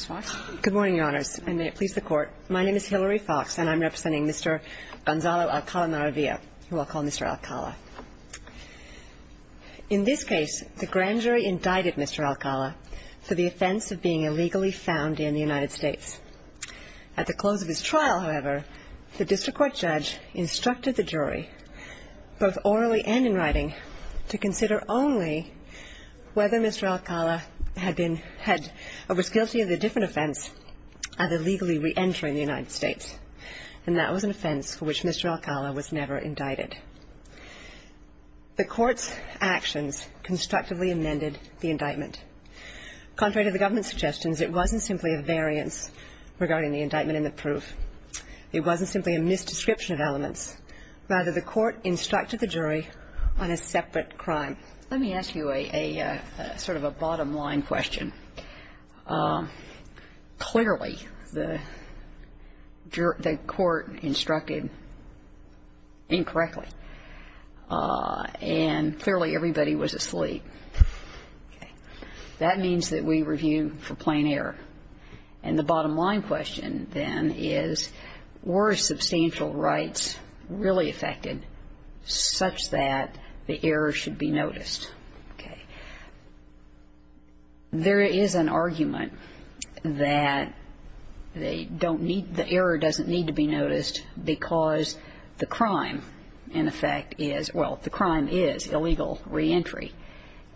In this case, the Grand Jury indicted Mr. Alcala for the offense of being illegally found in the United States. At the close of his trial, however, the district court judge instructed the jury, both orally and in writing, to consider only whether Mr. Alcala was guilty of a different offense, either legally re-entering the United States. And that was an offense for which Mr. Alcala was never indicted. The court's actions constructively amended the indictment. Contrary to the government's suggestions, it wasn't simply a variance regarding the indictment and the proof. It wasn't simply a mis-description of elements. Rather, the court instructed the jury on a separate crime. Let me ask you a sort of a bottom-line question. Clearly, the jury – the court instructed incorrectly. And clearly, everybody was asleep. That means that we review for plain error. And the bottom-line question, then, is, were substantial rights really affected such that the error should be noticed? Okay. There is an argument that they don't need – the error doesn't need to be noticed because the crime, in effect, is – well, the crime is illegal re-entry.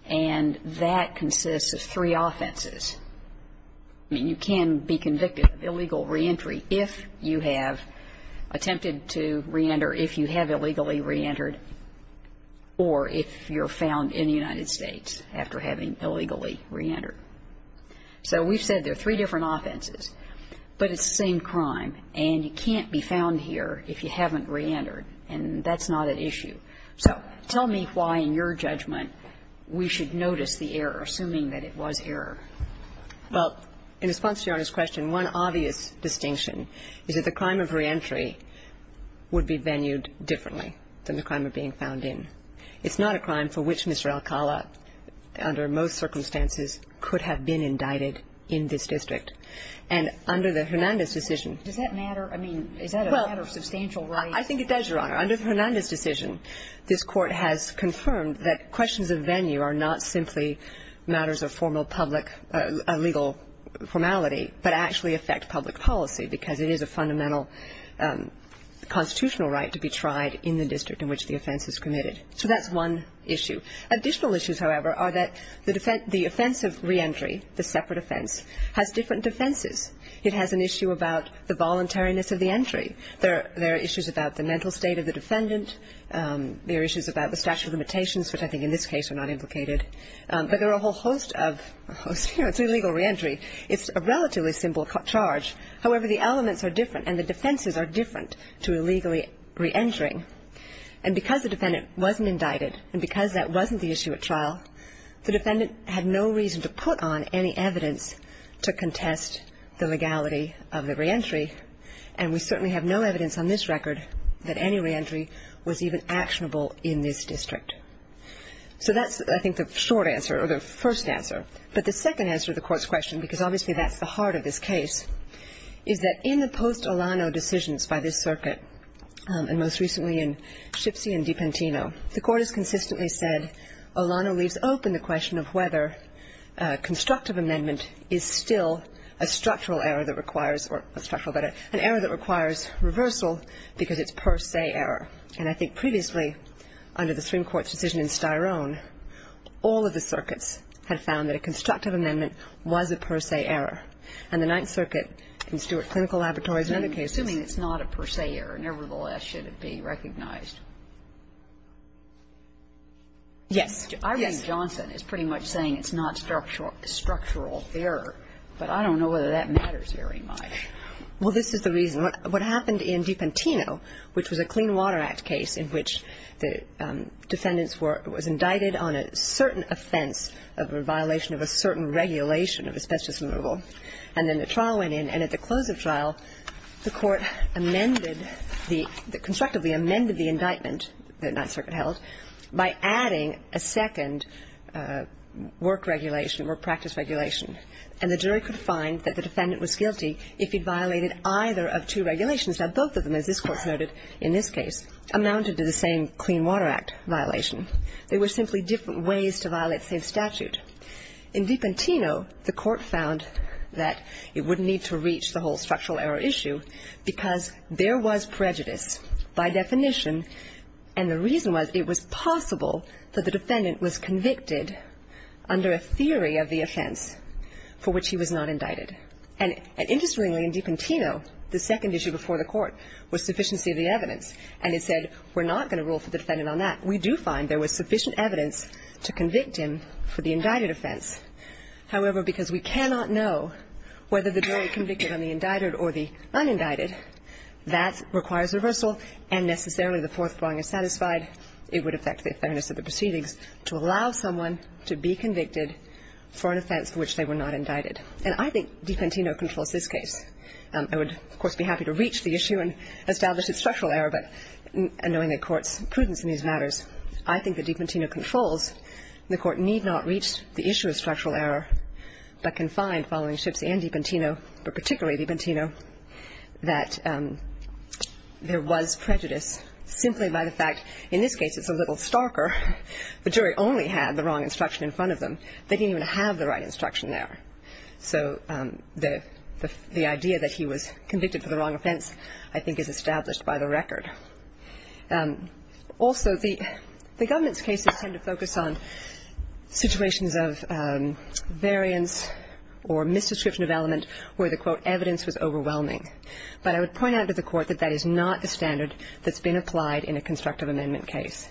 And that consists of three offenses. I mean, you can be convicted of illegal re-entry if you have attempted to re-enter, if you have illegally re-entered, or if you're found in the United States after having illegally re-entered. So we've said there are three different offenses, but it's the same crime. And you tell me why, in your judgment, we should notice the error, assuming that it was error. Well, in response to Your Honor's question, one obvious distinction is that the crime of re-entry would be venued differently than the crime of being found in. It's not a crime for which Mr. Alcala, under most circumstances, could have been indicted in this district. And under the Hernandez decision – Does that matter? I mean, is that a matter of substantial rights? I think it does, Your Honor. Under the Hernandez decision, this Court has confirmed that questions of venue are not simply matters of formal public – legal formality, but actually affect public policy, because it is a fundamental constitutional right to be tried in the district in which the offense is committed. So that's one issue. Additional issues, however, are that the offense of re-entry, the separate offense, has different defenses. It has an issue about the voluntariness of the entry. There are issues about the mental state of the defendant. There are issues about the statute of limitations, which I think, in this case, are not implicated. But there are a whole host of – you know, it's illegal re-entry. It's a relatively simple charge. However, the elements are different, and the defenses are different to illegally re-entering. And because the defendant wasn't indicted, and because that wasn't the issue at trial, the defendant had no reason to put on any evidence to contest the legality of the re-entry. And we certainly have no evidence on this record that any re-entry was even actionable in this district. So that's, I think, the short answer, or the first answer. But the second answer to the Court's question, because obviously that's the heart of this case, is that in the post-Olano decisions by this circuit, and most recently in Schipsi and Dipentino, the Court has consistently said Olano leaves open the question of whether constructive amendment is still a structural error that requires – or, not structural, but an error that requires reversal because it's per se error. And I think previously, under the Supreme Court's decision in Styrone, all of the circuits had found that a constructive amendment was a per se error. And the Ninth Circuit, in Stewart Clinical Laboratories and other cases – Kagan. Assuming it's not a per se error, nevertheless, should it be recognized? Yes. I read Johnson as pretty much saying it's not structural error, but I don't know whether that matters very much. Well, this is the reason. What happened in Dipentino, which was a Clean Water Act case in which the defendants were – was indicted on a certain offense of a violation of a certain regulation of asbestos removal, and then the trial went in. And at the close of trial, the Court amended the – constructively amended the indictment that the Ninth Circuit held by adding a second work regulation or practice regulation. And the jury could find that the defendant was guilty if he'd violated either of two regulations. Now, both of them, as this Court noted in this case, amounted to the same Clean Water Act violation. They were simply different ways to violate the same statute. In Dipentino, the Court found that it wouldn't need to reach the whole structural error issue because there was prejudice by definition, and the reason was it was possible that the defendant was convicted under a theory of the offense for which he was not indicted. And interestingly, in Dipentino, the second issue before the Court was sufficiency of the evidence, and it said we're not going to rule for the defendant on that. We do find there was sufficient evidence to convict him for the indicted offense. However, because we cannot know whether the jury convicted on the indicted or the unindicted, that requires reversal, and necessarily the fourth prong is satisfied. It would affect the fairness of the proceedings to allow someone to be convicted for an offense for which they were not indicted. And I think Dipentino controls this case. I would, of course, be happy to reach the issue and establish its structural error, but knowing the Court's prudence in these matters, I think that Dipentino controls, and the Court need not reach the issue of structural error, but can find, following Schiff's and Dipentino, but particularly Dipentino, that there was prejudice simply by the fact, in this case, it's a little starker, the jury only had the wrong instruction in front of them. They didn't even have the right instruction there. So the idea that he was convicted for the wrong offense, I think, is established by the record. Also, the government's cases tend to focus on situations of variance or misdescription of element where the, quote, evidence was overwhelming. But I would point out to the Court that that is not a standard that's been applied in a constructive amendment case.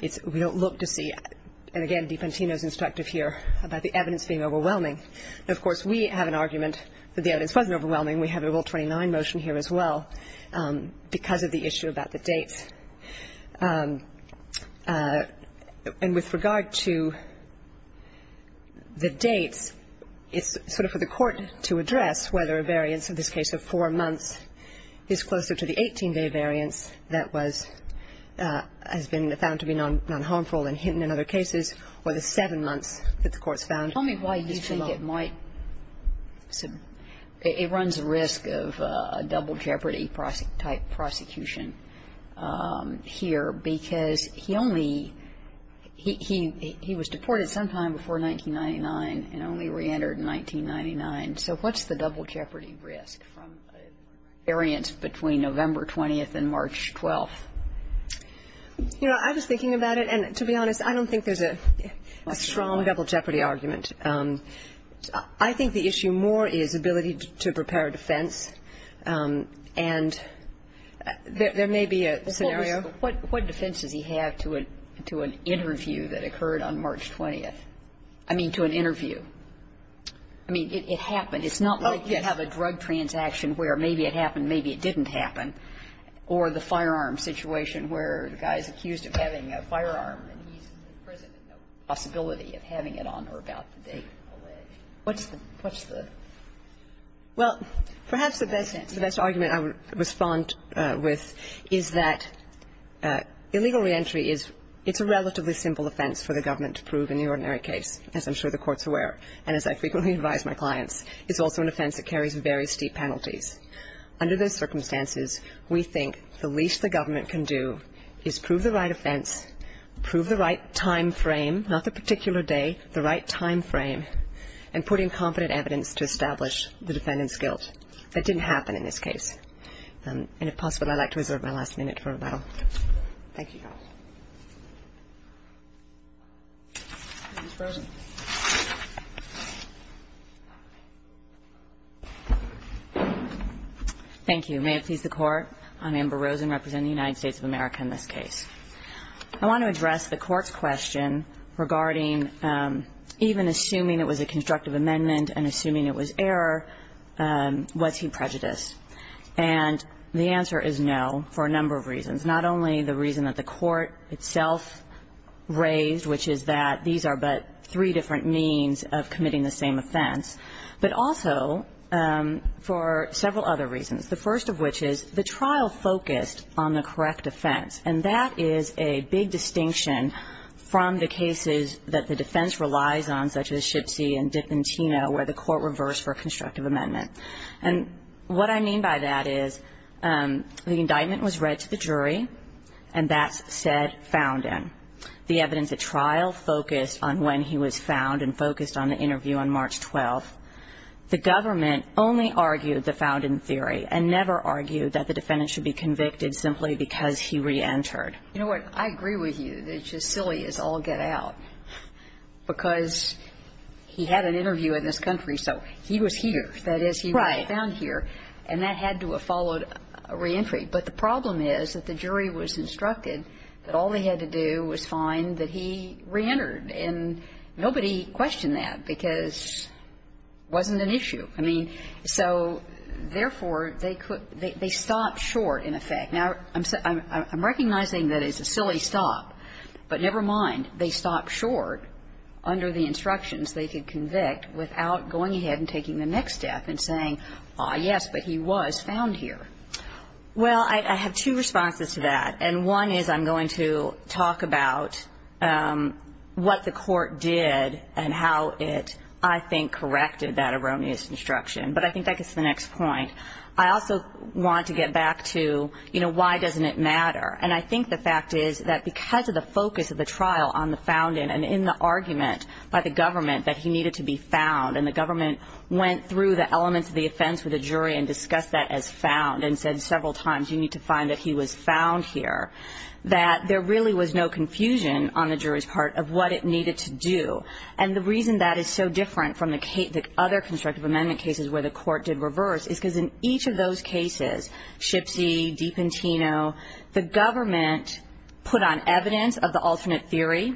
It's we don't look to see, and again, Dipentino's instructive here about the evidence being overwhelming. Of course, we have an argument that the evidence wasn't overwhelming. We have a Rule 29 motion here as well because of the issue about the dates. And with regard to the dates, it's sort of for the Court to address whether a variance, in this case, of four months, is closer to the 18-day variance that was, has been found to be non-harmful and hidden in other cases, or the seven months that the Court's found is below. Kagan, I think it might, it runs the risk of a double jeopardy-type prosecution here, because he only, he was deported sometime before 1999 and only reentered in 1999, so what's the double jeopardy risk from a variance between November 20th and March 12th? You know, I was thinking about it, and to be honest, I don't think there's a strong double jeopardy argument. I think the issue more is ability to prepare a defense, and there may be a scenario. But what defense does he have to an interview that occurred on March 20th? I mean, to an interview. I mean, it happened. It's not like you have a drug transaction where maybe it happened, maybe it didn't happen, or the firearm situation where the guy's accused of having a firearm and he's in prison and there's no possibility of having it on or about the date of the lay. What's the, what's the? Well, perhaps the best argument I would respond with is that illegal reentry is, it's a relatively simple offense for the government to prove in the ordinary case, as I'm sure the Court's aware, and as I frequently advise my clients. It's also an offense that carries very steep penalties. Under those circumstances, we think the least the government can do is prove the right time frame, not the particular day, the right time frame, and put in confident evidence to establish the defendant's guilt. That didn't happen in this case. And if possible, I'd like to reserve my last minute for rebuttal. Thank you. Ms. Rosen. Thank you. May it please the Court. I'm Amber Rosen, representing the United States of America in this case. I want to address the Court's question regarding, even assuming it was a constructive amendment and assuming it was error, was he prejudiced? And the answer is no, for a number of reasons. Not only the reason that the Court itself raised, which is that these are but three different means of committing the same offense, but also for several other reasons. The first of which is the trial focused on the correct offense. And that is a big distinction from the cases that the defense relies on, such as Shipsey and D'Antino, where the Court reversed for a constructive amendment. And what I mean by that is the indictment was read to the jury, and that's said, found in. The evidence at trial focused on when he was found and focused on the interview on March 12th. The government only argued the found in theory and never argued that the defendant should be convicted simply because he reentered. You know what? I agree with you. It's just silly as all get out, because he had an interview in this country, so he was here. Right. That is, he was found here. And that had to have followed a reentry. But the problem is that the jury was instructed that all they had to do was find that he reentered. And nobody questioned that, because it wasn't an issue. I mean, so therefore, they could they stopped short, in effect. Now, I'm recognizing that it's a silly stop, but never mind. They stopped short under the instructions they could convict without going ahead and taking the next step and saying, ah, yes, but he was found here. Well, I have two responses to that. And one is I'm going to talk about what the court did and how it, I think, corrected that erroneous instruction. But I think that gets to the next point. I also want to get back to, you know, why doesn't it matter? And I think the fact is that because of the focus of the trial on the found in and in the argument by the government that he needed to be found, and the government went through the elements of the offense with the jury and discussed that as found and said several times, you need to find that he was found here, that there really was no confusion on the jury's part of what it needed to do. And the reason that is so different from the other constructive amendment cases where the court did reverse is because in each of those cases, Shipsey, Dipentino, the government put on evidence of the alternate theory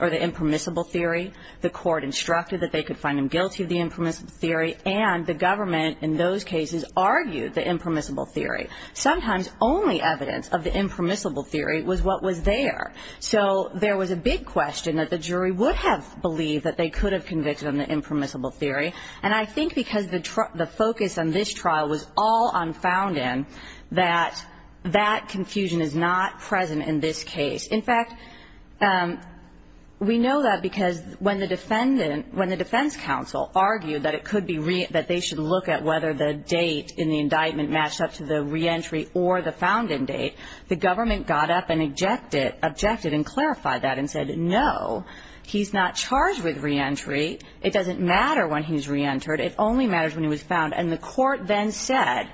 or the impermissible theory. The court instructed that they could find him guilty of the impermissible theory. And the government in those cases argued the impermissible theory. Sometimes only evidence of the impermissible theory was what was there. So there was a big question that the jury would have believed that they could have convicted him of the impermissible theory. And I think because the focus on this trial was all on found in, that that confusion is not present in this case. In fact, we know that because when the defendant, when the defense counsel argued that it could be, that they should look at whether the date in the indictment matched up to the reentry or the found in date, the government got up and objected and clarified that and said, no, he's not charged with reentry. It doesn't matter when he's reentered. It only matters when he was found. And the court then said,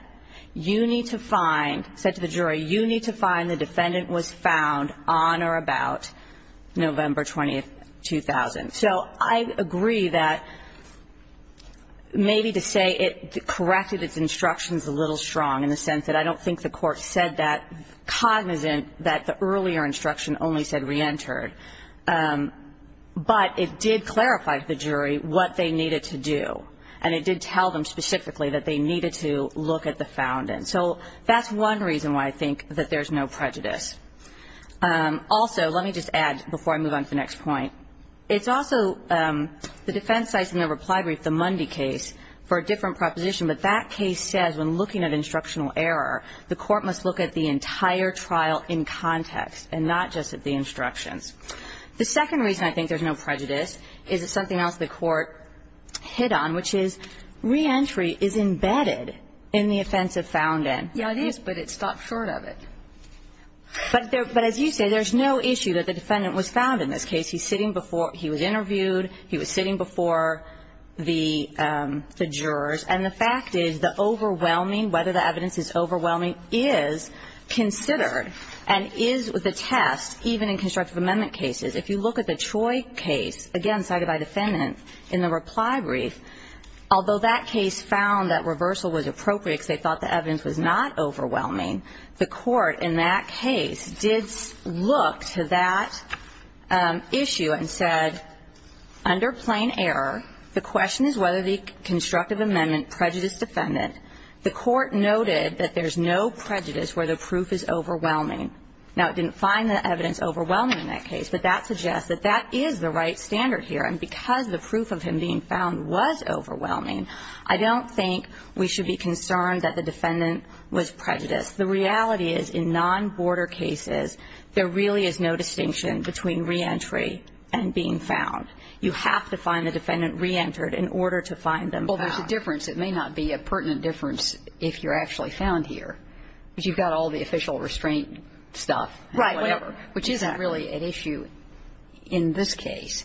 you need to find, said to the jury, you need to find the defendant was found on or about November 20, 2000. So I agree that maybe to say it corrected its instructions a little strong in the sense that I don't think the court said that cognizant that the earlier instruction only said reentered. But it did clarify to the jury what they needed to do. And it did tell them specifically that they needed to look at the found in. So that's one reason why I think that there's no prejudice. Also, let me just add, before I move on to the next point, it's also the defense sites in the reply brief, the Mundy case, for a different proposition. But that case says when looking at instructional error, the court must look at the entire trial in context and not just at the instructions. The second reason I think there's no prejudice is it's something else the court hit on, which is reentry is embedded in the offense of found in. Yeah, it is, but it's stopped short of it. But as you say, there's no issue that the defendant was found in this case. He's sitting before, he was interviewed, he was sitting before the jurors. And the fact is the overwhelming, whether the evidence is overwhelming, is considered and is the test, even in constructive amendment cases. If you look at the Troy case, again cited by defendant in the reply brief, although that case found that reversal was appropriate because they thought the evidence was not overwhelming, the court in that case did look to that issue and said, under plain error, the question is whether the constructive amendment prejudice defendant, the court noted that there's no prejudice where the proof is overwhelming. Now, it didn't find the evidence overwhelming in that case, but that suggests that that is the right standard here. And because the proof of him being found was overwhelming, I don't think we should be concerned that the defendant was prejudiced. The reality is in non-border cases, there really is no distinction between reentry and being found. You have to find the defendant reentered in order to find them found. Well, there's a difference. It may not be a pertinent difference if you're actually found here, but you've got all the official restraint stuff and whatever, which isn't really an issue in this case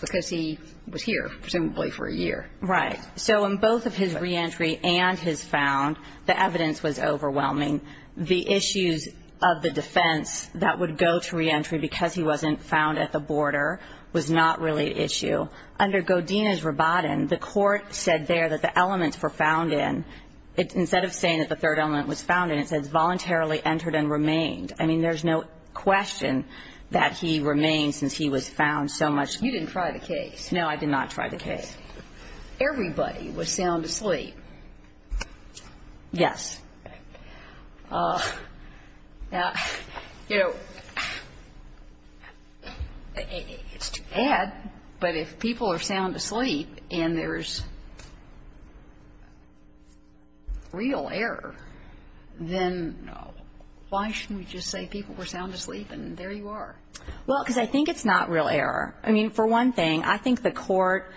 because he was here, presumably, for a year. Right. So in both of his reentry and his found, the evidence was overwhelming. The issues of the defense that would go to reentry because he wasn't found at the border was not really an issue. Under Godinez-Rabatin, the court said there that the elements were found in. Instead of saying that the third element was found in, it says, voluntarily entered and remained. I mean, there's no question that he remained since he was found so much. No, I did not try the case. Everybody was sound asleep. Yes. Now, you know, it's too bad, but if people are sound asleep and there's real error, then why shouldn't we just say people were sound asleep and there you are? Well, because I think it's not real error. I mean, for one thing, I think the court,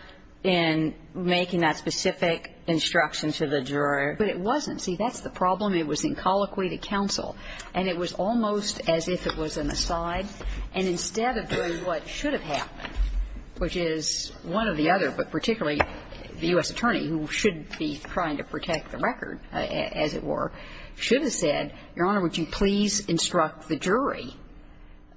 in making that specific instruction to the juror, but it wasn't. See, that's the problem. It was in colloquy to counsel, and it was almost as if it was an aside. And instead of doing what should have happened, which is one or the other, but particularly the U.S. attorney, who should be trying to protect the record, as it were, should have said, Your Honor, would you please instruct the jury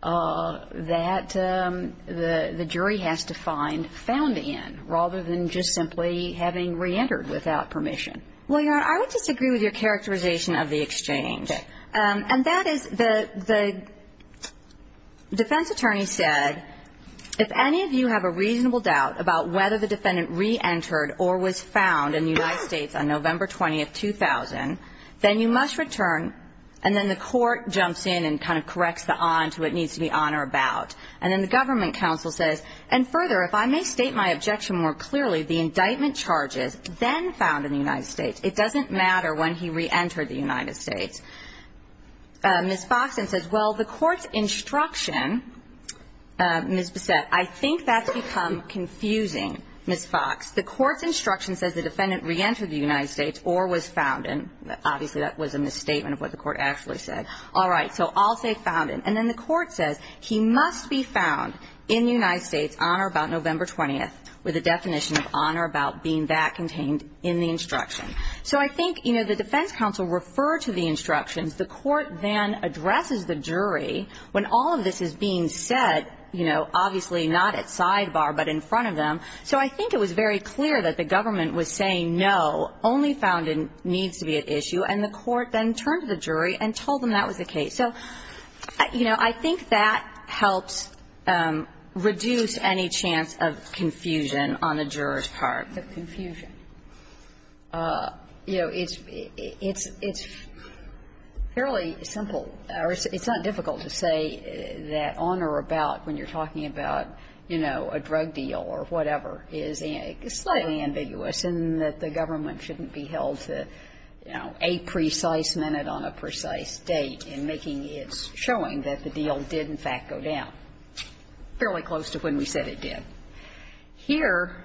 that the jury has to find found in, rather than just simply having reentered without permission. Well, Your Honor, I would disagree with your characterization of the exchange. And that is the defense attorney said, if any of you have a reasonable doubt about whether the defendant reentered or was found in the United States on November 20, 2000, then you must return. And then the court jumps in and kind of corrects the on to what needs to be on or about. And then the government counsel says, and further, if I may state my objection more clearly, the indictment charges then found in the United States, it doesn't matter when he reentered the United States. Ms. Foxson says, well, the court's instruction, Ms. Bissett, I think that's become confusing, Ms. Fox. The court's instruction says the defendant reentered the United States or was found in, obviously that was a misstatement of what the court actually said. All right, so I'll say found in. And then the court says, he must be found in the United States on or about November 20, with a definition of on or about being that contained in the instruction. So I think, you know, the defense counsel referred to the instructions. The court then addresses the jury when all of this is being said, you know, obviously not at sidebar, but in front of them. So I think it was very clear that the government was saying, no, only found in needs to be at issue. And the court then turned to the jury and told them that was the case. So, you know, I think that helps reduce any chance of confusion on the jurors' part. Kagan. The confusion. You know, it's fairly simple. It's not difficult to say that on or about when you're talking about, you know, a drug deal or whatever is slightly ambiguous and that the government shouldn't be held to, you know, a precise minute on a precise date in making its showing that the deal did, in fact, go down, fairly close to when we said it did. Here,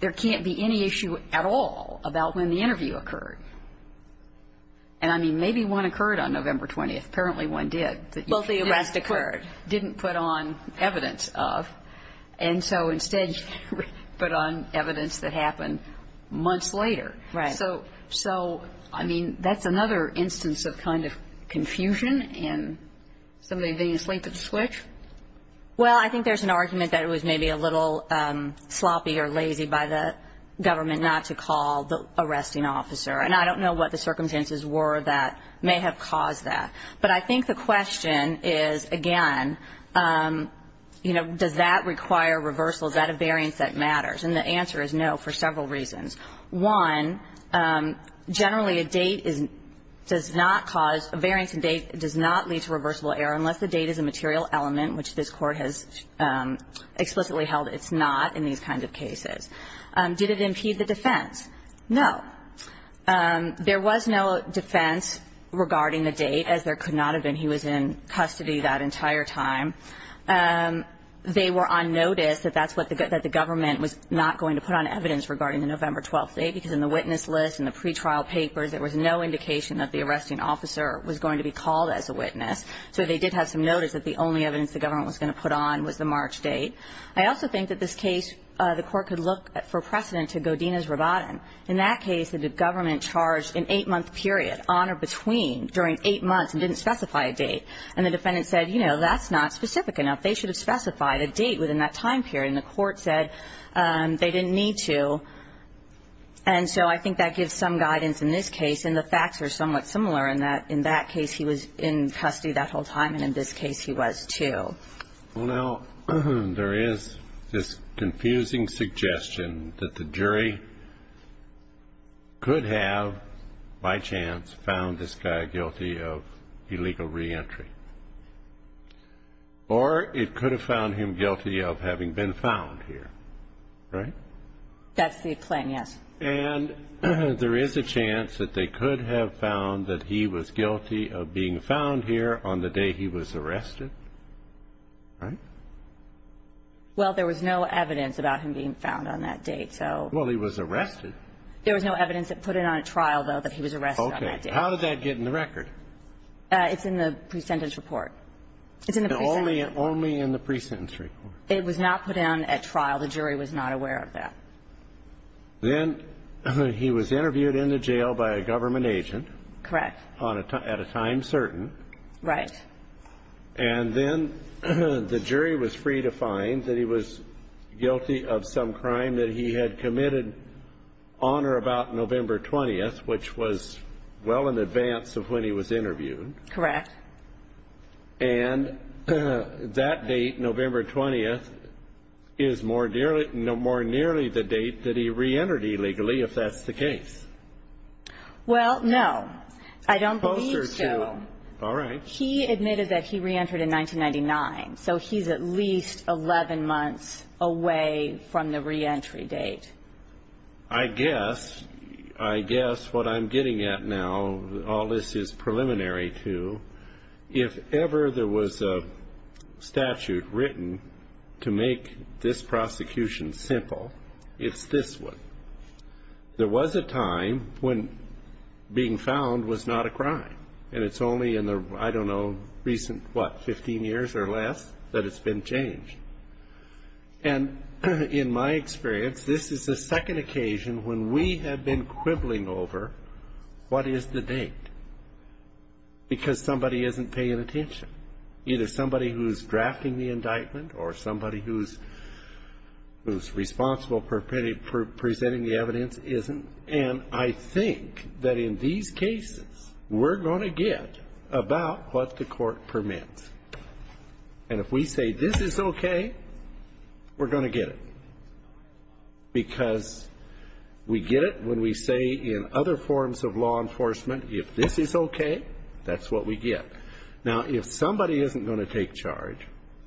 there can't be any issue at all about when the interview occurred. And, I mean, maybe one occurred on November 20th. Apparently, one did. But you didn't put on evidence of. And so instead, you put on evidence that happened months later. Right. So, so, I mean, that's another instance of kind of confusion and somebody being asleep at the switch. Well, I think there's an argument that it was maybe a little sloppy or lazy by the government not to call the arresting officer. And I don't know what the circumstances were that may have caused that. But I think the question is, again, you know, does that require reversal? Is that a variance that matters? And the answer is no for several reasons. One, generally, a date is not caused, a variance in date does not lead to reversible error unless the date is a material element, which this Court has explicitly held it's not in these kinds of cases. Did it impede the defense? No. There was no defense regarding the date, as there could not have been. He was in custody that entire time. They were on notice that that's what the government was not going to put on evidence regarding the November 12th date, because in the witness list and the pretrial papers, there was no indication that the arresting officer was going to be called as a witness. So they did have some notice that the only evidence the government was going to put on was the March date. I also think that this case, the Court could look for precedent to Godinez-Rabatin. In that case, the government charged an eight-month period on or between during eight months and didn't specify a date. And the defendant said, you know, that's not specific enough. They should have specified a date within that time period. And the Court said they didn't need to. And so I think that gives some guidance in this case. And the facts are somewhat similar in that in that case he was in custody that whole time, and in this case he was, too. Well, now, there is this confusing suggestion that the jury could have, by chance, found this guy guilty of illegal reentry, or it could have found him guilty of having been found here, right? That's the claim, yes. And there is a chance that they could have found that he was guilty of being found here on the day he was arrested, right? Well, there was no evidence about him being found on that date, so. Well, he was arrested. There was no evidence that put it on a trial, though, that he was arrested on that date. Okay. How did that get in the record? It's in the pre-sentence report. It's in the pre-sentence report. Only in the pre-sentence report. It was not put down at trial. The jury was not aware of that. Then he was interviewed in the jail by a government agent. Correct. At a time certain. Right. And then the jury was free to find that he was guilty of some crime that he had committed on or about November 20th, which was well in advance of when he was interviewed. Correct. And that date, November 20th, is more nearly the date that he re-entered illegally, if that's the case. Well, no. I don't believe so. All right. He admitted that he re-entered in 1999, so he's at least 11 months away from the re-entry date. I guess. I guess what I'm getting at now, all this is preliminary to. If ever there was a statute written to make this prosecution simple, it's this one. There was a time when being found was not a crime, and it's only in the, I don't know, recent, what, 15 years or less that it's been changed. And in my experience, this is the second occasion when we have been quibbling over what is the date. Because somebody isn't paying attention. Either somebody who's drafting the indictment or somebody who's responsible for presenting the evidence isn't. And I think that in these cases, we're going to get about what the court permits. And if we say, this is okay, we're going to get it. Because we get it when we say in other forms of law enforcement, if this is okay, that's what we get. Now, if somebody isn't going to take charge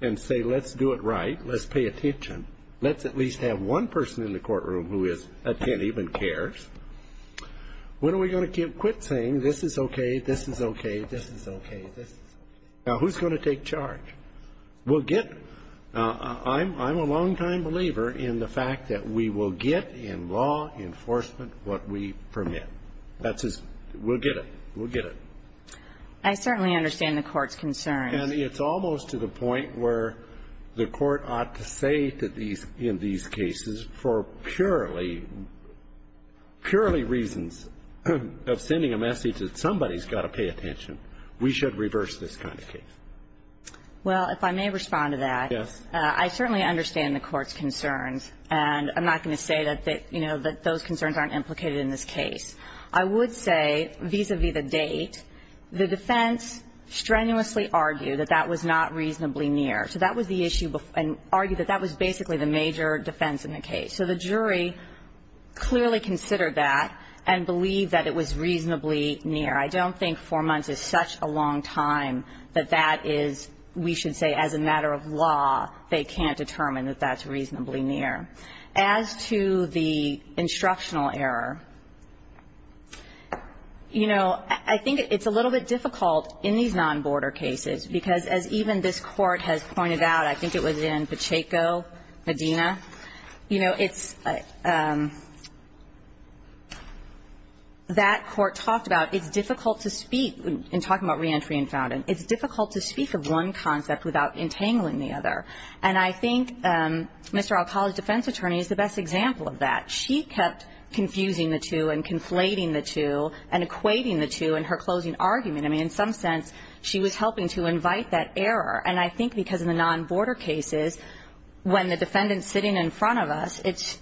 and say, let's do it right, let's pay attention, let's at least have one person in the courtroom who is attentive and cares, when are we going to quit saying, this is okay, this is okay, this is okay, this is okay. Now, who's going to take charge? We'll get, I'm a long-time believer in the fact that we will get in law enforcement what we permit. That's just, we'll get it. We'll get it. I certainly understand the court's concern. And it's almost to the point where the court ought to say that in these cases, for purely, purely reasons of sending a message that somebody's got to pay attention, we should reverse this kind of case. Well, if I may respond to that, I certainly understand the court's concerns. And I'm not going to say that those concerns aren't implicated in this case. I would say, vis-à-vis the date, the defense strenuously argued that that was not reasonably near. So that was the issue, and argued that that was basically the major defense in the case. So the jury clearly considered that and believed that it was reasonably near. I don't think four months is such a long time that that is, we should say, as a matter of law, they can't determine that that's reasonably near. As to the instructional error, you know, I think it's a little bit difficult in these non-border cases, because as even this court has pointed out, I think it was in Pacheco, Medina, you know, it's, that court talked about, it's difficult to speak, in talking about reentry and founding, it's difficult to speak of one concept without entangling the other. And I think Mr. Alcala's defense attorney is the best example of that. She kept confusing the two and conflating the two and equating the two in her closing argument. I mean, in some sense, she was helping to invite that error. And I think because in the non-border cases, when the defendant's sitting in front of us, it's,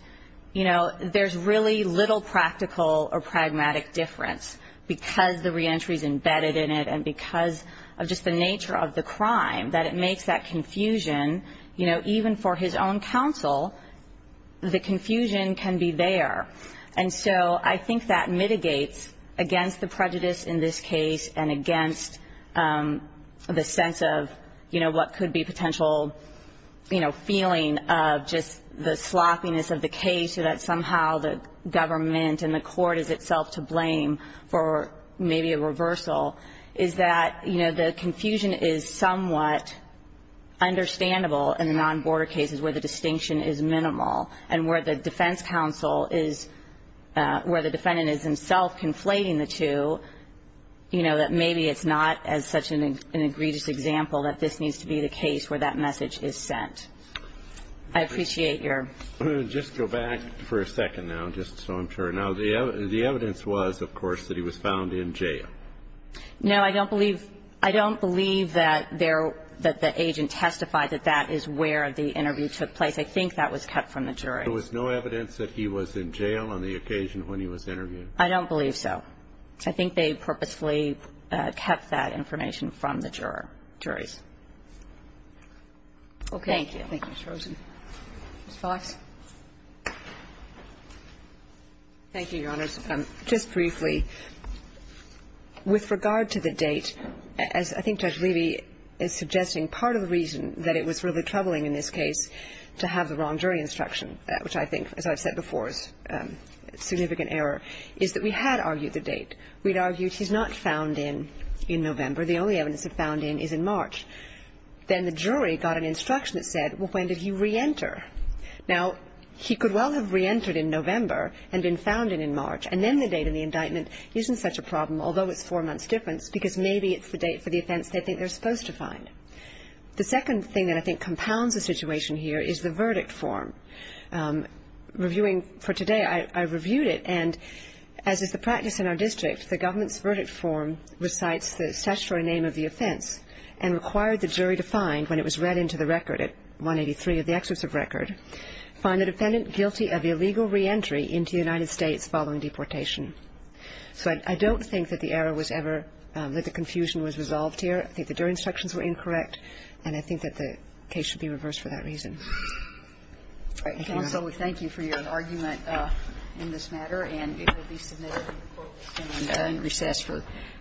you know, there's really little practical or pragmatic difference because the reentry is embedded in it and because of just the nature of the crime, that it makes that confusion, you know, even for his own counsel, the confusion can be there. And so I think that mitigates against the prejudice in this case and against the sense of, you know, what could be potential, you know, feeling of just the sloppiness of the case so that somehow the government and the court is itself to blame for maybe a reversal, is that, you know, the confusion is somewhat understandable in the non-border cases where the distinction is minimal and where the defense counsel is, where the defendant is himself conflating the two, you know, that maybe it's not as such an egregious example that this needs to be the case where that message is sent. I appreciate your... Just go back for a second now, just so I'm sure. Now, the evidence was, of course, that he was found in jail. No, I don't believe that the agent testified that that is where the interview took place. I think that was cut from the jury. There was no evidence that he was in jail on the occasion when he was interviewed? I don't believe so. I think they purposefully kept that information from the jurors. Okay. Thank you. Thank you, Ms. Rosen. Ms. Fox. Thank you, Your Honors. Just briefly, with regard to the date, as I think Judge Levy is suggesting, part of the reason that it was really troubling in this case to have the wrong jury instruction, which I think, as I've said before, is a significant error, is that we had argued the date. We'd argued he's not found in in November. The only evidence of found in is in March. Then the jury got an instruction that said, well, when did he re-enter? Now, he could well have re-entered in November and been found in in March. And then the date of the indictment isn't such a problem, although it's four months difference, because maybe it's the date for the offense they think they're supposed to find. The second thing that I think compounds the situation here is the verdict form. Reviewing for today, I reviewed it, and as is the practice in our district, the government's verdict form recites the statutory name of the offense and required the jury to find, when it was read into the record at 183 of the excerpt of record, find the defendant guilty of illegal re-entry into the United States following deportation. So I don't think that the error was ever, that the confusion was resolved here. I think the jury instructions were incorrect, and I think that the case should be reversed for that reason. All right. Thank you, Your Honor. Kagan. So we thank you for your argument in this matter, and it will be submitted in recess for discussion.